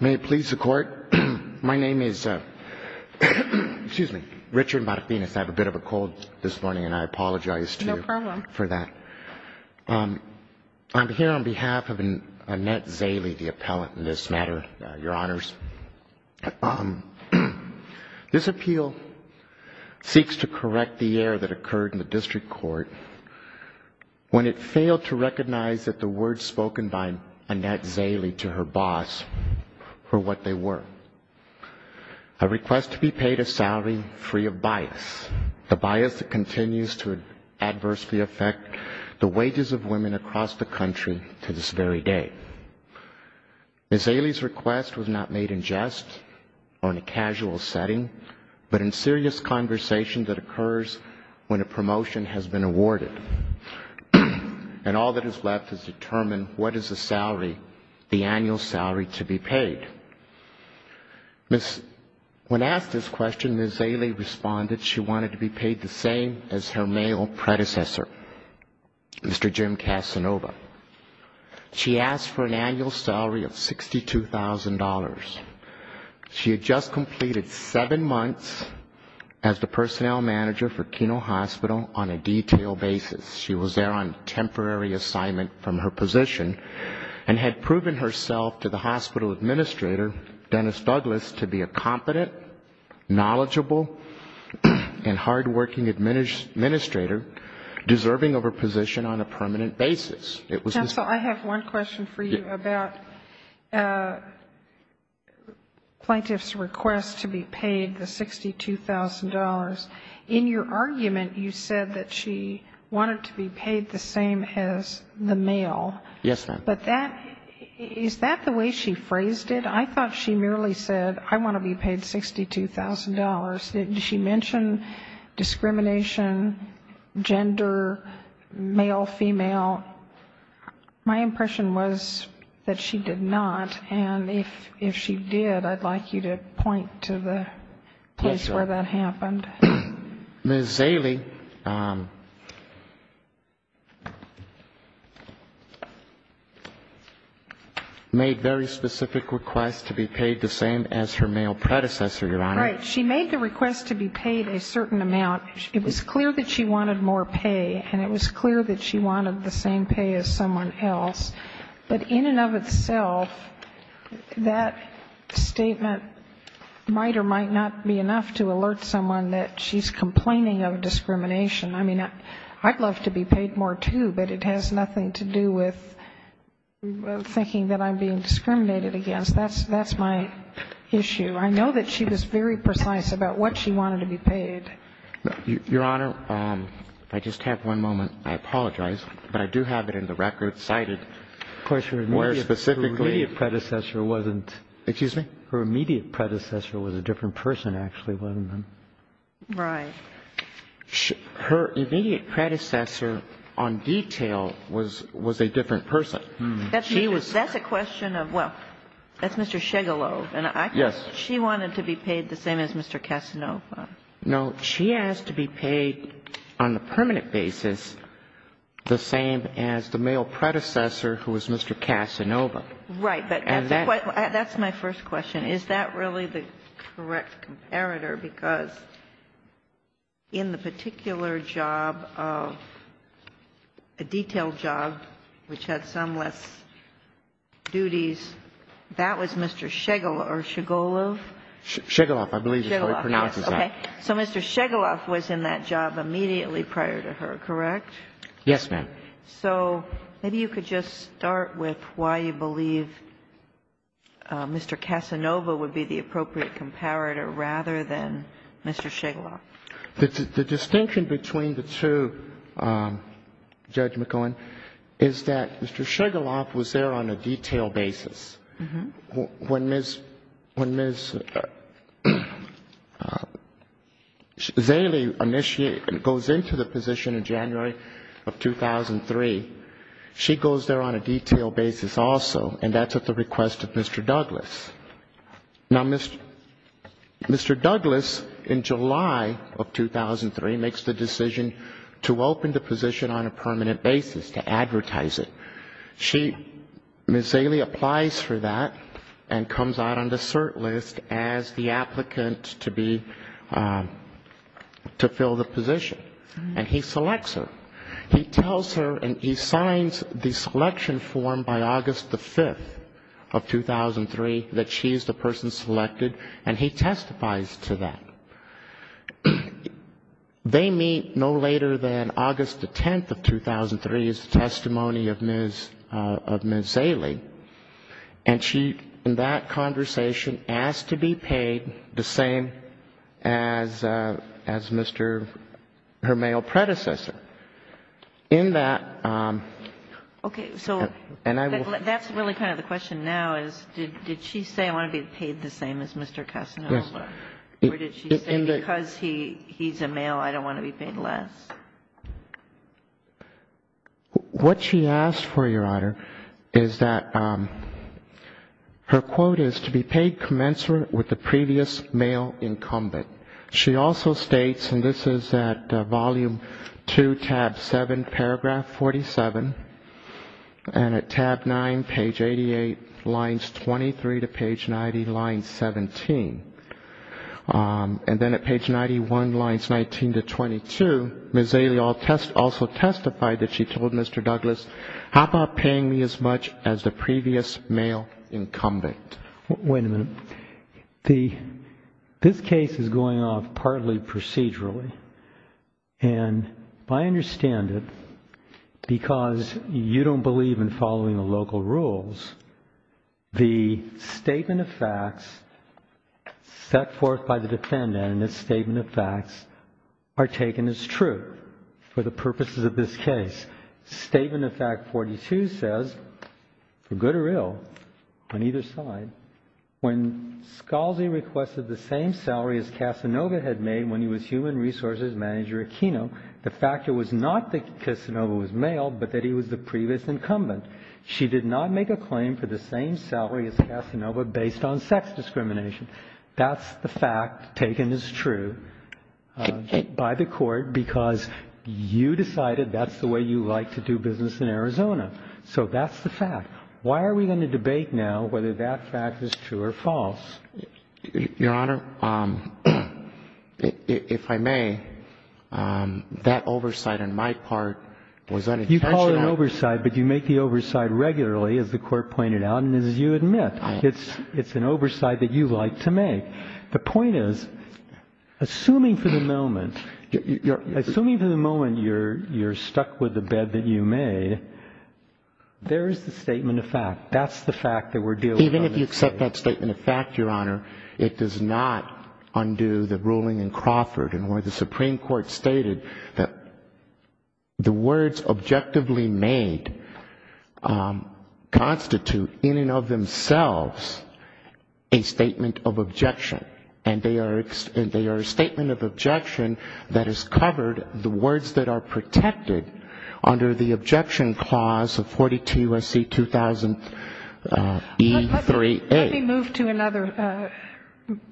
May it please the Court. My name is Richard Marathenas. I have a bit of a cold this morning and I apologize for that. I'm here on behalf of Annette Szaley, the appellant in this matter, Your Honors. This appeal seeks to correct the error that occurred in the district court when it failed to recognize that the words spoken by Annette Szaley to her boss were what they were. A request to be paid a salary free of bias, a bias that continues to adversely affect the wages of women across the country to this very day. Ms. Szaley's request was not made in jest or in a casual setting, but in serious conversation that occurs when a promotion has been awarded. And all that is left is to determine what is the salary, the annual salary to be paid. When asked this question, Ms. Szaley responded she wanted to be paid the same as her male predecessor, Mr. Jim Casanova. She asked for an annual salary of $62,000. She had just completed seven months as the personnel manager for Keno Hospital on a detailed basis. She was there on temporary assignment from her position and had proven herself to the hospital administrator, Dennis Douglas, to be a competent, knowledgeable, and hardworking administrator deserving of her position on a permanent basis. It was Ms. Szaley. I have one question for you about plaintiff's request to be paid the $62,000. In your argument, you said that she wanted to be paid the same as the male. Yes, ma'am. But that, is that the way she phrased it? I thought she merely said, I want to be paid $62,000. Did she mention discrimination, gender, male, female? My impression was that she did not. And if she did, I'd like you to point to the place where that happened. Ms. Szaley made very specific requests to be paid the same as her male predecessor, Your Honor. Right. She made the request to be paid a certain amount. It was clear that she wanted more pay, and it was clear that she wanted the same pay as someone else. But in and of itself, that statement might or might not be enough to alert someone that she's complaining of discrimination. I mean, I'd love to be paid more, too, but it has nothing to do with thinking that I'm being discriminated against. That's my issue. I know that she was very precise about what she wanted to be paid. Your Honor, I just have one moment. I apologize, but I do have it in the record cited, where specifically her immediate predecessor wasn't. Excuse me? Her immediate predecessor was a different person, actually, wasn't it? Right. Her immediate predecessor on detail was a different person. That's a question of, well, that's Mr. Shigalow. Yes. She wanted to be paid the same as Mr. Casanova. No. She asked to be paid on a permanent basis the same as the male predecessor who was Mr. Casanova. Right. But that's my first question. Is that really the correct comparator? Because in the particular job of a detailed job which had some less duties, that was Mr. Shigalow or Shigalow? Shigalow. I believe that's how he pronounces that. Okay. So Mr. Shigalow was in that job immediately prior to her, correct? Yes, ma'am. So maybe you could just start with why you believe Mr. Casanova would be the appropriate comparator rather than Mr. Shigalow. The distinction between the two, Judge McGohan, is that Mr. Shigalow was there on a detailed basis. When Ms. Zaley goes into the position in January of 2003, she goes there on a detailed basis also, and that's at the request of Mr. Douglas. Now, Mr. Douglas, in July of 2003, makes the decision to open the position on a permanent basis, to advertise it. She, Ms. Zaley, applies for that and comes out on the cert list as the applicant to be to fill the position. And he selects her. He tells her and he signs the selection form by August the 5th of 2003 that she is the person selected, and he testifies to that. They meet no later than August the 10th of 2003 as a testimony of Ms. Zaley, and she, in that conversation, asked to be paid the same as Mr. her male predecessor. In that and I will. Okay. So that's really kind of the question now is did she say I want to be paid the same as Mr. Casanova? Yes. Or did she say because he's a male, I don't want to be paid less? What she asked for, Your Honor, is that her quote is to be paid commensurate with the previous male incumbent. She also states, and this is at volume 2, tab 7, paragraph 47, and at tab 9, page 88, lines 23 to page 90, line 17. And then at page 91, lines 19 to 22, Ms. Zaley also testified that she told Mr. Douglas, how about paying me as much as the previous male incumbent? Wait a minute. This case is going off partly procedurally, and I understand it because you don't believe in following the local rules. The statement of facts set forth by the defendant in this statement of facts are taken as true for the purposes of this case. Statement of fact 42 says, for good or ill, on either side, when Scalzi requested the same salary as Casanova had made when he was human resources manager at Keno, the fact was not that Casanova was male, but that he was the previous incumbent. She did not make a claim for the same salary as Casanova based on sex discrimination. That's the fact taken as true by the Court because you decided that's the way you like to do business in Arizona. So that's the fact. Why are we going to debate now whether that fact is true or false? Your Honor, if I may, that oversight on my part was unintentional. You call it an oversight, but you make the oversight regularly, as the Court pointed out, and as you admit, it's an oversight that you like to make. The point is, assuming for the moment, assuming for the moment you're stuck with the bed that you made, there is the statement of fact. If you accept that statement of fact, Your Honor, it does not undo the ruling in Crawford in where the Supreme Court stated that the words objectively made constitute in and of themselves a statement of objection. And they are a statement of objection that has covered the words that are protected under the objection clause of 42 U.S.C. 2000 E3A. Let me move to another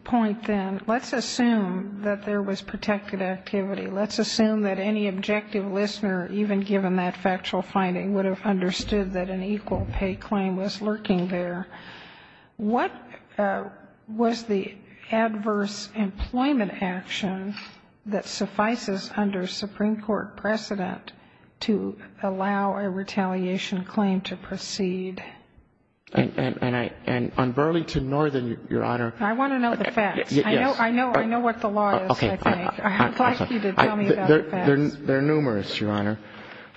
point then. Let's assume that there was protected activity. Let's assume that any objective listener, even given that factual finding, would have understood that an equal pay claim was lurking there. What was the adverse employment action that suffices under Supreme Court precedent to allow a retaliation claim to proceed? And on Burlington Northern, Your Honor ---- I want to know the facts. Yes. I know what the law is, I think. Okay. I'd like you to tell me about the facts. They're numerous, Your Honor.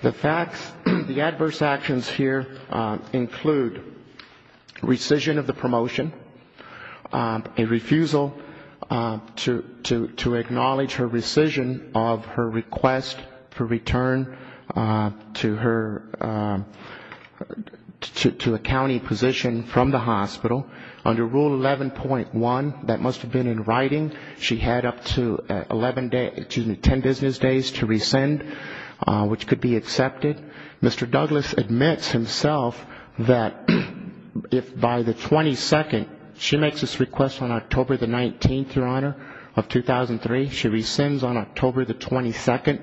The facts, the adverse actions here include rescission of the promotion, a refusal to acknowledge her rescission of her request for return to her, to a county position from the hospital. Under Rule 11.1, that must have been in writing, she had up to 11 days, excuse me, 10 business days to rescind, which could be accepted. Mr. Douglas admits himself that if by the 22nd, she makes this request on October the 19th, Your Honor, of 2003, she rescinds on October the 22nd.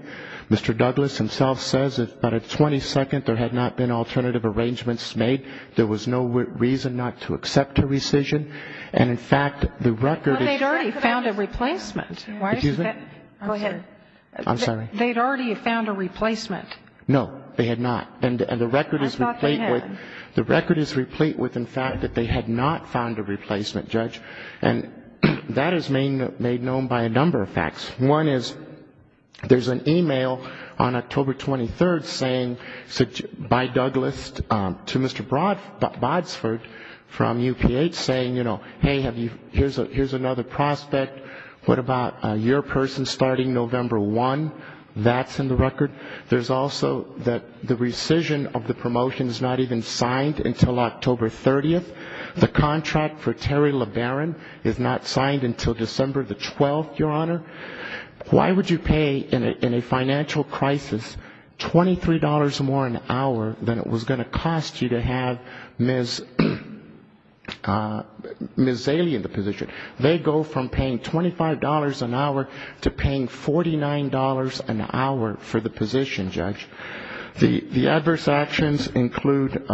Mr. Douglas himself says that by the 22nd there had not been alternative arrangements made, there was no reason not to accept her rescission, and in fact the record is ---- But they'd already found a replacement. Excuse me? Go ahead. I'm sorry. They'd already found a replacement. No, they had not. And the record is ---- I thought they had. The record is replete with the fact that they had not found a replacement, Judge, and that is made known by a number of facts. One is there's an e-mail on October 23rd saying by Douglas to Mr. Boddsford from UPH saying, you know, hey, here's another prospect, what about your person starting November 1, that's in the record. There's also that the rescission of the promotion is not even signed until October 30th. The contract for Terry LeBaron is not signed until December the 12th, Your Honor. Why would you pay in a financial crisis $23 more an hour than it was going to cost you to have Ms. Zaley in the position? They go from paying $25 an hour to paying $49 an hour for the position, Judge. The adverse actions include,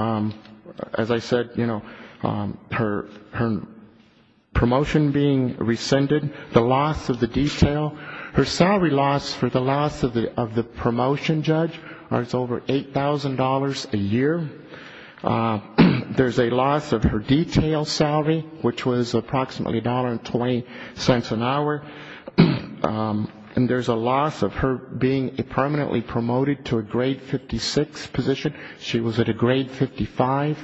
as I said, you know, her promotion being rescinded, the loss of the detail, her salary loss for the loss of the promotion, Judge, is over $8,000 a year. There's a loss of her detail salary, which was approximately $1.20 an hour. And there's a loss of her being permanently promoted to a grade 56 position. She was at a grade 55.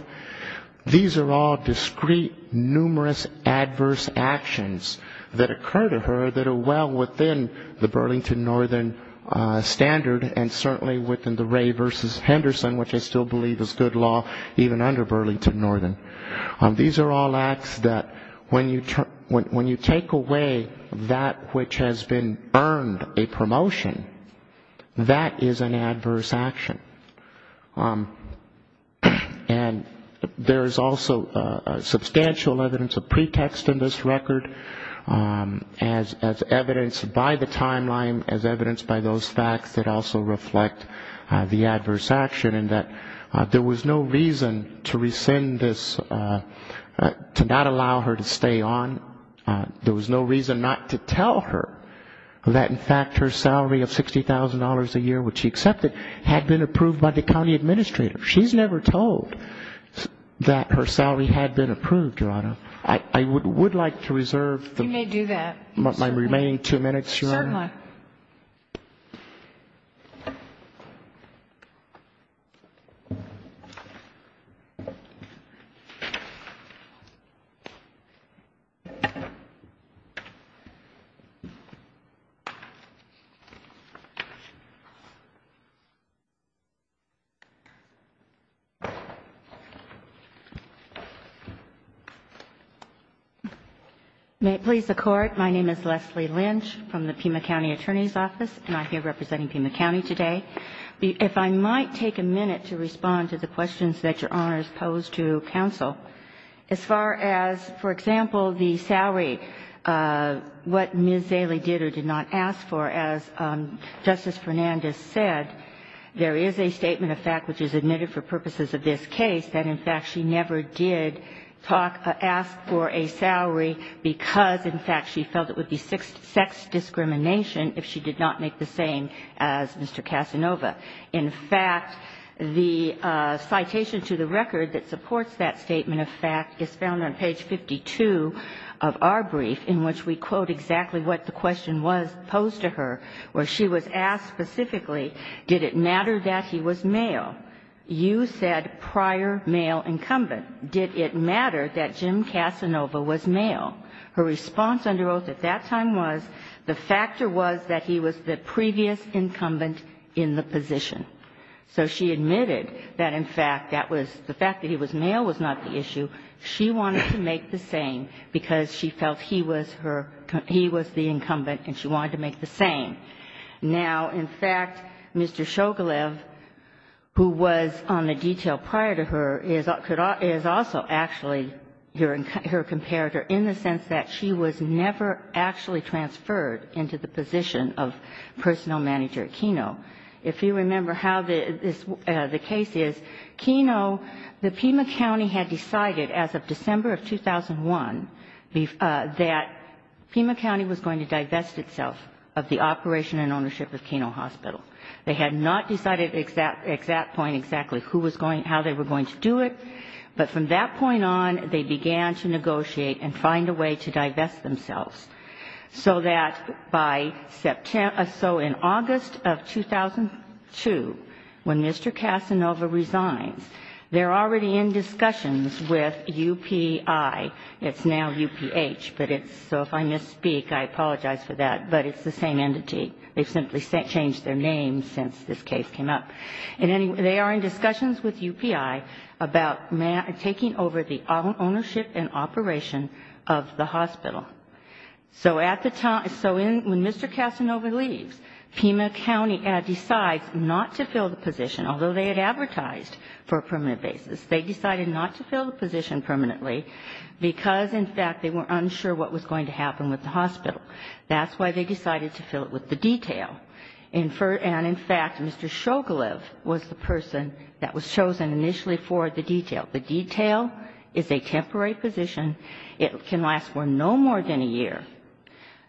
These are all discrete, numerous adverse actions that occur to her that are well within the Burlington Northern standard, and certainly within the Ray v. Henderson, which I still believe is good law, even under Burlington Northern. These are all acts that when you take away that which has been earned a promotion, that is an adverse action. And there is also substantial evidence of pretext in this record, as evidenced by the timeline, as evidenced by those facts that also reflect the adverse action, in that there was no reason to rescind this, to not allow her to stay on, there was no reason not to tell her that, in fact, her salary of $60,000 a year, which she accepted, had been approved by the county administrator. She's never told that her salary had been approved, Your Honor. I would like to reserve my remaining two minutes, Your Honor. Certainly. May it please the Court, my name is Leslie Lynch from the Pima County Attorney's Office, and I'm here representing Pima County today. If I might take a minute to respond to the questions that Your Honor has posed to counsel. As far as, for example, the salary, what Ms. Zaley did or did not ask for, as Justice Fernandez said, there is a statement of fact which is admitted for purposes of this case that, in fact, she never did talk or ask for a salary because, in fact, she felt it would be sex discrimination if she did not make the same as Mr. Casanova. In fact, the citation to the record that supports that statement of fact is found on page 52 of our brief, in which we quote exactly what the question was posed to her, where she was asked specifically, did it matter that he was male? You said prior male incumbent. Did it matter that Jim Casanova was male? Her response under oath at that time was the factor was that he was the previous incumbent in the position. So she admitted that, in fact, that was the fact that he was male was not the issue. She wanted to make the same because she felt he was her, he was the incumbent, and she wanted to make the same. Now, in fact, Mr. Shoglev, who was on the detail prior to her, is also actually her comparator in the sense that she was never actually transferred into the position of personnel manager at Keno. If you remember how the case is, Keno, the Pima County had decided that, in fact, as of December of 2001, that Pima County was going to divest itself of the operation and ownership of Keno Hospital. They had not decided at that point exactly who was going, how they were going to do it. But from that point on, they began to negotiate and find a way to divest themselves, so that by September, so in August of 2002, when Mr. Casanova resigns, they're already in discussions with UPI. It's now UPH, but it's, so if I misspeak, I apologize for that, but it's the same entity. They've simply changed their name since this case came up. And anyway, they are in discussions with UPI about taking over the ownership and operation of the hospital. So at the time, so when Mr. Casanova leaves, Pima County decides not to divest. They decided not to fill the position, although they had advertised for a permanent basis. They decided not to fill the position permanently because, in fact, they were unsure what was going to happen with the hospital. That's why they decided to fill it with the detail. And in fact, Mr. Shogolov was the person that was chosen initially for the detail. The detail is a temporary position. It can last for no more than a year.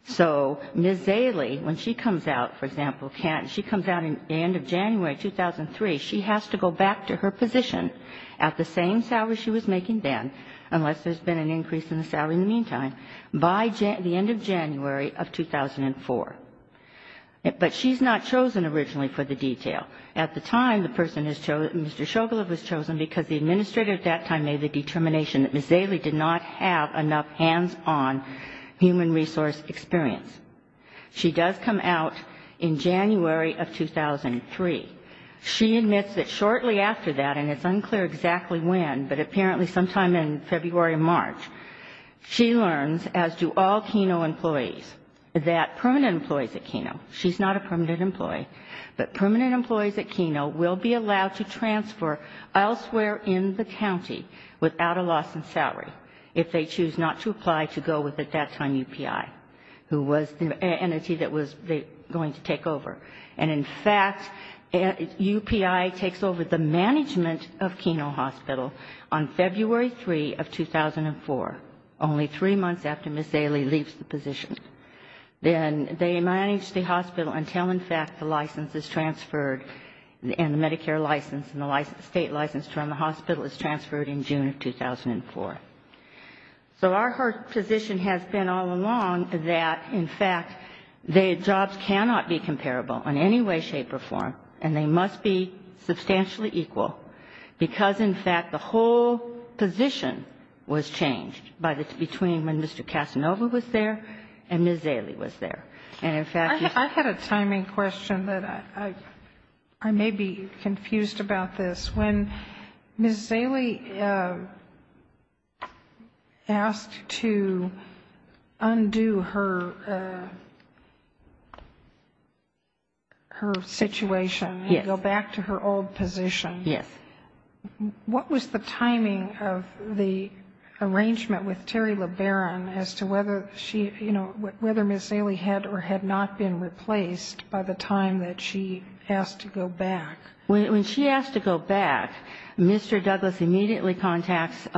So Ms. Zaley, when she comes out, for example, she comes out at the end of January 2003, she has to go back to her position at the same salary she was making then, unless there's been an increase in the salary in the meantime, by the end of January of 2004. But she's not chosen originally for the detail. At the time, Mr. Shogolov was chosen because the administrator at that time made the determination that Ms. Zaley did not have enough hands-on human resource experience. She does come out in January of 2003. She admits that shortly after that, and it's unclear exactly when, but apparently sometime in February or March, she learns, as do all Keno employees, that permanent employees at Keno, she's not a permanent employee, but permanent employees at Keno will be allowed to transfer elsewhere in the county without a loss in salary if they choose not to apply to go with, at that time, UPI, who was the entity that was going to take over. And in fact, UPI takes over the management of Keno Hospital on February 3 of 2004, only three months after Ms. Zaley leaves the position. Then they manage the hospital until, in fact, the license is transferred and the Medicare license and the state license from the hospital is transferred in June of 2004. So our position has been all along that, in fact, jobs cannot be comparable in any way, shape or form, and they must be substantially equal, because, in fact, the whole position was changed between when Mr. Casanova was there and when Ms. Zaley was there. And in fact, you see... I had a timing question that I may be confused about this. When Ms. Zaley asked to undo her situation and go back to her old position, what was the timing of the arrangement with Terry LeBaron as to whether she, you know, whether Ms. Zaley had or had not been replaced by the time that she asked to go back? When she asked to go back, Mr. Douglas immediately contacts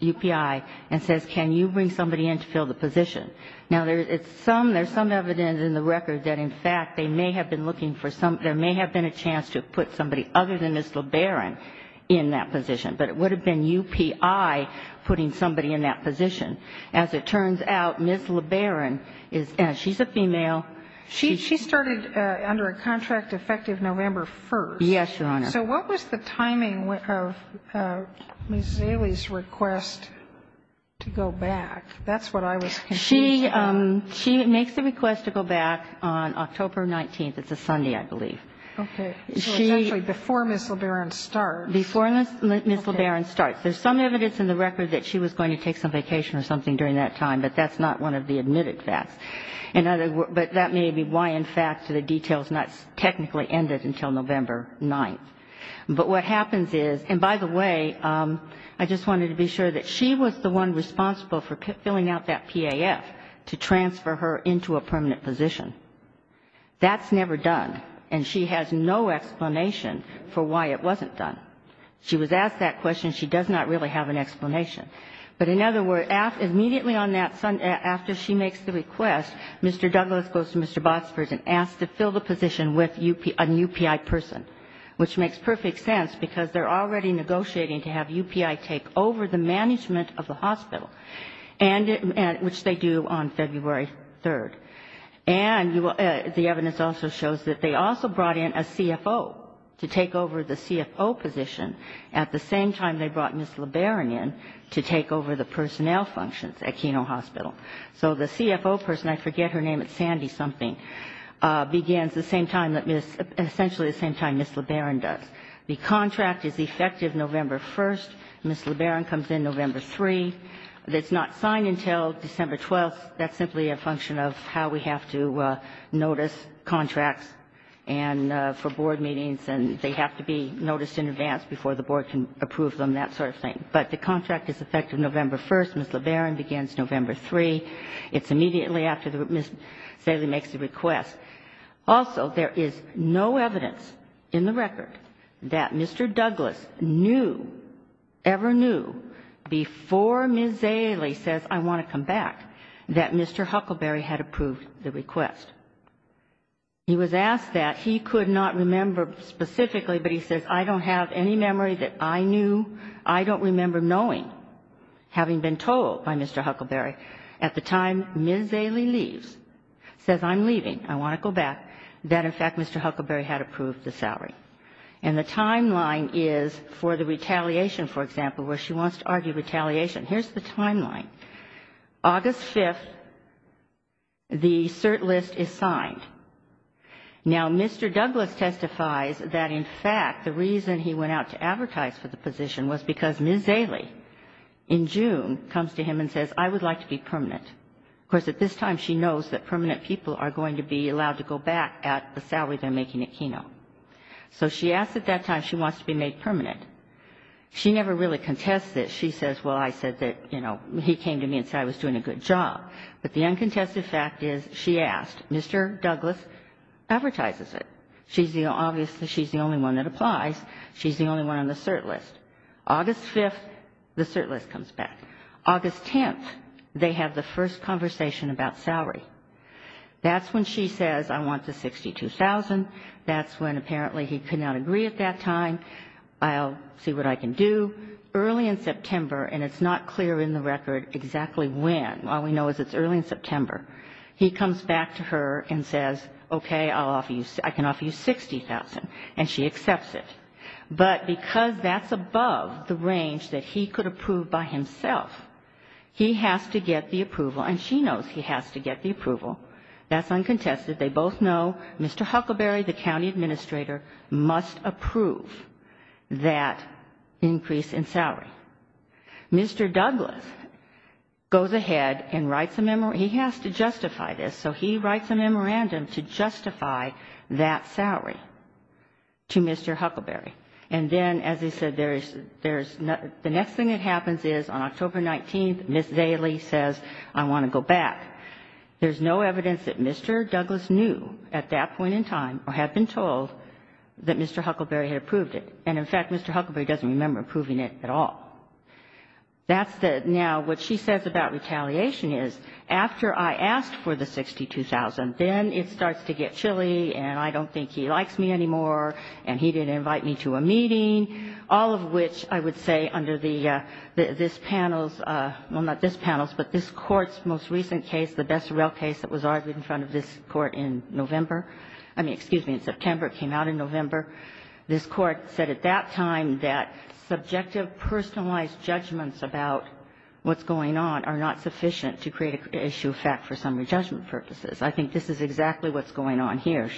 UPI and says, can you bring somebody in to fill the position? Now, there's some evidence in the record that, in fact, they may have been looking for some, there may have been a chance to put somebody other than Ms. LeBaron in that position, but it would have been UPI putting somebody in that position. As it turns out, Ms. LeBaron is a female. She started under a contract effective November 1st. Yes, Your Honor. So what was the timing of Ms. Zaley's request to go back? That's what I was confused about. She makes the request to go back on October 19th. It's a Sunday, I believe. Okay. So essentially before Ms. LeBaron starts. Before Ms. LeBaron starts. There's some evidence in the record that she was going to take some vacation or something during that time, but that's not one of the admitted facts. But that may be why, in fact, the details not technically ended until November 9th. But what happens is, and by the way, I just wanted to be sure that she was the one responsible for filling out that PAF to transfer her into a permanent position. That's never done, and she has no explanation for why it wasn't done. She was asked that question. She does not really have an explanation. But in other words, immediately on that Sunday after she makes the request, Mr. Douglas goes to Mr. Botsford and asks to fill the position with a UPI person, which makes perfect sense, because they're already negotiating to have UPI take over the management of the hospital, which they do on February 3rd. And the evidence also shows that they also brought in a CFO to take over the CFO position, at the same time they brought Ms. LeBaron in to take over the personnel functions at Keno Hospital. So the CFO person, I forget her name, it's Sandy something, begins the same time that Ms. — essentially the same time Ms. LeBaron does. The contract is effective November 1st. Ms. LeBaron comes in November 3. It's not signed until December 12th. That's simply a function of how we have to notice contracts and for board meetings, and they have to be noticed in advance before the board can approve them, that sort of thing. But the contract is effective November 1st. Ms. LeBaron begins November 3. It's immediately after Ms. Zaley makes the request. Also, there is no evidence in the record that Mr. Douglas knew, ever knew, before Ms. Zaley says, I want to come back, that Mr. Huckleberry had approved the request. He was asked that. He could not remember specifically, but he says, I don't have any memory that I knew, I don't remember knowing, having been told by Mr. Huckleberry, at the time Ms. Zaley leaves, says I'm leaving, I want to go back, that in fact Mr. Huckleberry had approved the salary. And the timeline is for the retaliation, for example, where she wants to argue retaliation. Here's the timeline. Now, Mr. Douglas testifies that, in fact, the reason he went out to advertise for the position was because Ms. Zaley, in June, comes to him and says, I would like to be permanent. Of course, at this time she knows that permanent people are going to be allowed to go back at the salary they're making at Keno. So she asks at that time if she wants to be made permanent. She never really contests this. She says, well, I said that, you know, he came to me and said I was doing a good job. But the uncontested fact is she asked. Mr. Douglas advertises it. She's the only one that applies. She's the only one on the cert list. August 5th, the cert list comes back. August 10th, they have the first conversation about salary. That's when she says, I want the $62,000. That's when apparently he could not agree at that time. I'll see what I can do. And it's not clear in the record exactly when. All we know is it's early in September. He comes back to her and says, okay, I can offer you $60,000. And she accepts it. But because that's above the range that he could approve by himself, he has to get the approval. And she knows he has to get the approval. That's uncontested. They both know Mr. Huckleberry, the county administrator, must approve that increase in salary. Mr. Douglas goes ahead and writes a memorandum. He has to justify this. So he writes a memorandum to justify that salary to Mr. Huckleberry. And then, as I said, the next thing that happens is on October 19th, Ms. Daly says, I want to go back. There's no evidence that Mr. Douglas knew at that point in time or had been told that Mr. Huckleberry had approved it. And, in fact, Mr. Huckleberry doesn't remember approving it at all. That's the now what she says about retaliation is, after I asked for the $62,000, then it starts to get chilly, and I don't think he likes me anymore, and he didn't invite me to a meeting, all of which I would say under this panel's, well, not this panel's, but this Court's most recent case, the Besserell case that was argued in front of this Court in November, I mean, excuse me, in September. It came out in November. This Court said at that time that subjective personalized judgments about what's going on are not sufficient to create an issue of fact for summary judgment purposes. I think this is exactly what's going on here.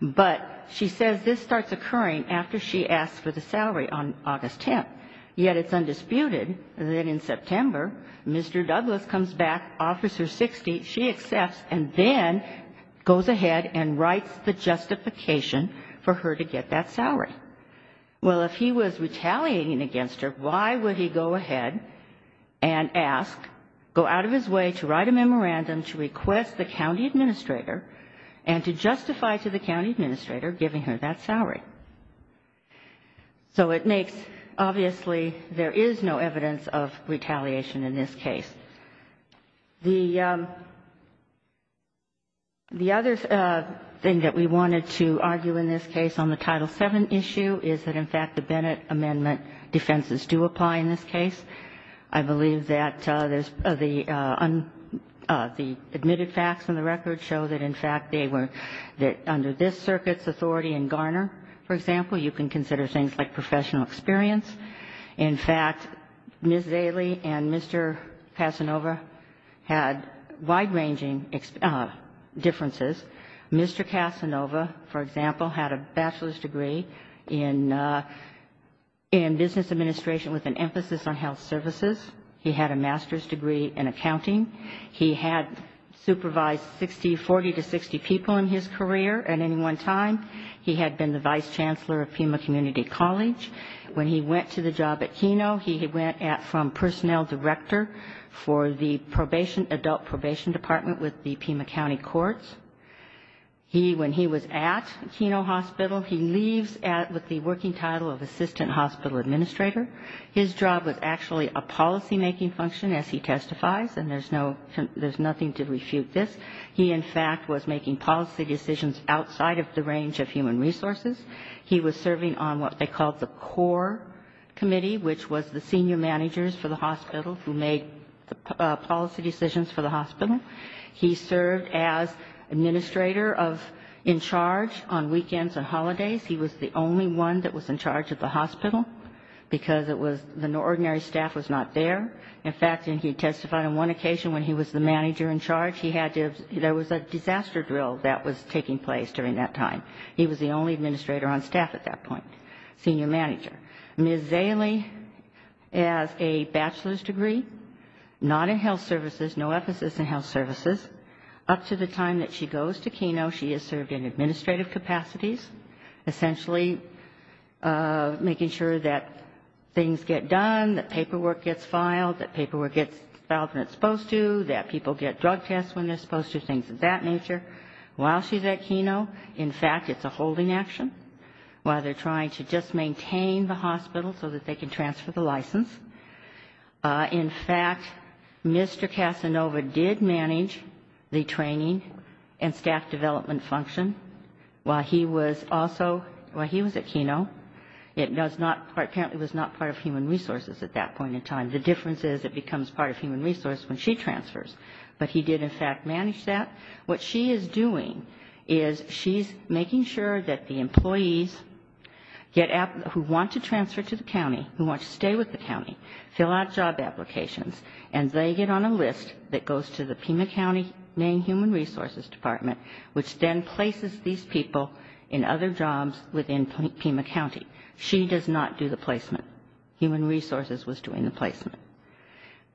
But she says this starts occurring after she asks for the salary on August 10th. Yet it's undisputed that in September, Mr. Douglas comes back, offers her $60,000. She accepts and then goes ahead and writes the justification for her to get that salary. Well, if he was retaliating against her, why would he go ahead and ask, go out of his way to write a memorandum, to request the county administrator and to justify to the county administrator giving her that salary? So it makes, obviously, there is no evidence of retaliation in this case. The other thing that we wanted to argue in this case on the Title VII issue is that, in fact, the Bennett Amendment defenses do apply in this case. I believe that the admitted facts in the record show that, in fact, they were that under this circuit's authority in Garner, for example, you can consider things like professional experience. In fact, Ms. Daley and Mr. Casanova had wide-ranging differences. Mr. Casanova, for example, had a bachelor's degree in business administration with an emphasis on health services. He had a master's degree in accounting. He had supervised 40 to 60 people in his career at any one time. He had been the vice chancellor of Pima Community College. When he went to the job at Keno, he went from personnel director for the adult probation department with the Pima County Courts. When he was at Keno Hospital, he leaves with the working title of assistant hospital administrator. His job was actually a policymaking function, as he testifies, and there's nothing to refute this. He, in fact, was making policy decisions outside of the range of human resources. He was serving on what they called the core committee, which was the senior managers for the hospital, who made policy decisions for the hospital. He served as administrator of in charge on weekends and holidays. He was the only one that was in charge at the hospital, because it was the ordinary staff was not there. In fact, he testified on one occasion when he was the manager in charge. He had to have, there was a disaster drill that was taking place during that time. He was the only administrator on staff at that point, senior manager. Ms. Zaley has a bachelor's degree, not in health services, no emphasis in health services. Up to the time that she goes to Keno, she has served in administrative capacities, essentially making sure that things get done, that paperwork gets filed, that paperwork gets filed when it's supposed to, that people get drug tests when they're supposed to, things of that nature. While she's at Keno, in fact, it's a holding action. While they're trying to just maintain the hospital so that they can transfer the license. In fact, Mr. Casanova did manage the training and staff development function while he was also, while he was at Keno. It does not, apparently was not part of human resources at that point in time. The difference is it becomes part of human resources when she transfers. But he did, in fact, manage that. What she is doing is she's making sure that the employees get, who want to transfer to the county, who want to stay with the county, fill out job applications, and they get on a list that goes to the Pima County Maine Human Resources Department, which then places these people in other jobs within Pima County. She does not do the placement. Human resources was doing the placement.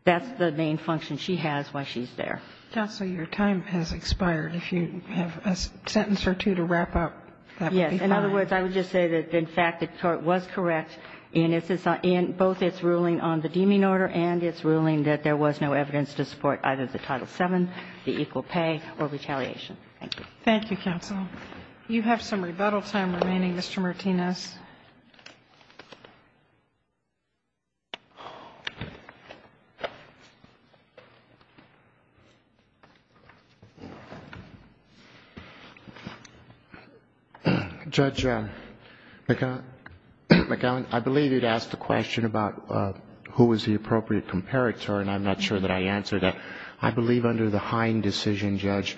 That's the main function she has while she's there. Counsel, your time has expired. If you have a sentence or two to wrap up, that would be fine. Yes. In other words, I would just say that, in fact, the court was correct in both its ruling on the deeming order and its ruling that there was no evidence to support either the Title VII, the equal pay, or retaliation. Thank you. Thank you, counsel. You have some rebuttal time remaining, Mr. Martinez. Judge McAllen, I believe you had asked the question about who was the appropriate comparator, and I'm not sure that I answered that. I believe under the Hine decision, Judge,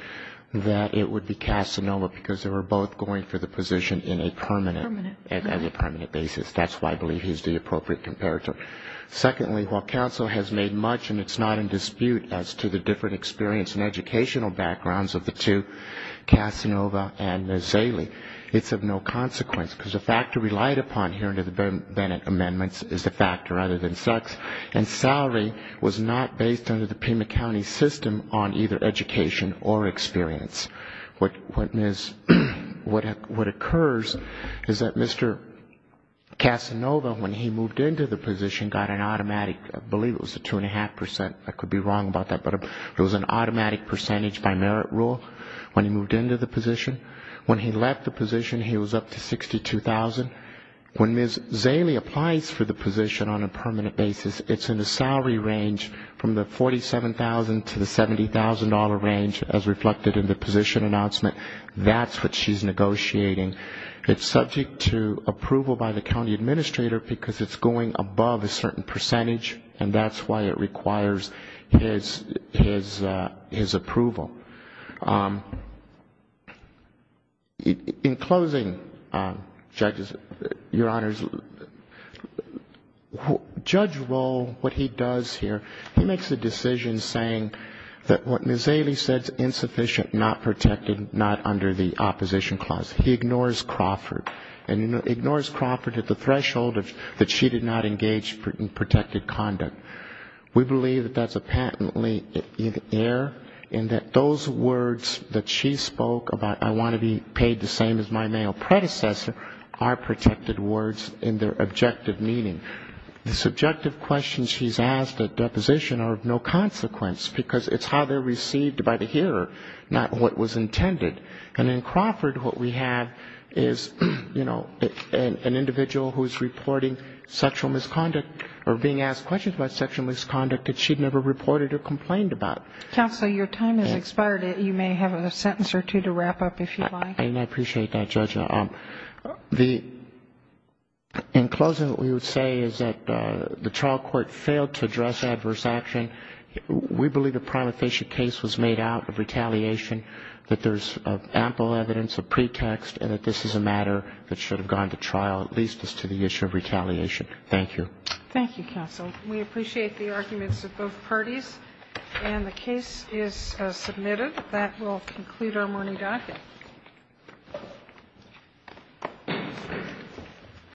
that it would be Casanova, because they were both going for the position in a permanent. Permanent. That's why I believe he's the appropriate comparator. Secondly, while counsel has made much, and it's not in dispute as to the different experience and educational backgrounds of the two, Casanova and Ms. Zaley, it's of no consequence, because the factor relied upon here under the Bennett amendments is the factor other than sex, and salary was not based under the Pima County system on either education or experience. What occurs is that Mr. Casanova, when he moved into the position, got an automatic, I believe it was a 2.5 percent, I could be wrong about that, but it was an automatic percentage by merit rule when he moved into the position. When he left the position, he was up to $62,000. When Ms. Zaley applies for the position on a permanent basis, it's in the salary range from the $47,000 to the $70,000 range as reflected in the position announcement. That's what she's negotiating. It's subject to approval by the county administrator because it's going above a certain percentage, and that's why it requires his approval. In closing, judges, Your Honors, Judge Rohl, what he does here, he makes a decision saying that what Ms. Zaley said is insufficient, not protected, not under the opposition clause. He ignores Crawford, and ignores Crawford at the threshold that she did not engage in protected conduct. We believe that that's a patently in error, and that those words that she spoke about, I want to be paid the same as my male predecessor, are protected words in their objective meaning. The subjective questions she's asked at deposition are of no consequence, because it's how they're received by the hearer, not what was intended. And in Crawford, what we have is, you know, an individual who is reporting sexual misconduct, or being asked questions about sexual misconduct that she'd never reported or complained about. Counsel, your time has expired. You may have a sentence or two to wrap up if you'd like. I appreciate that, Judge. In closing, what we would say is that the trial court failed to address adverse action. We believe the prima facie case was made out of retaliation, that there's ample evidence of pretext, and that this is a matter that should have gone to trial, at least as to the issue of retaliation. Thank you. Thank you, counsel. We appreciate the arguments of both parties. And the case is submitted. That will conclude our morning docket. Thank you.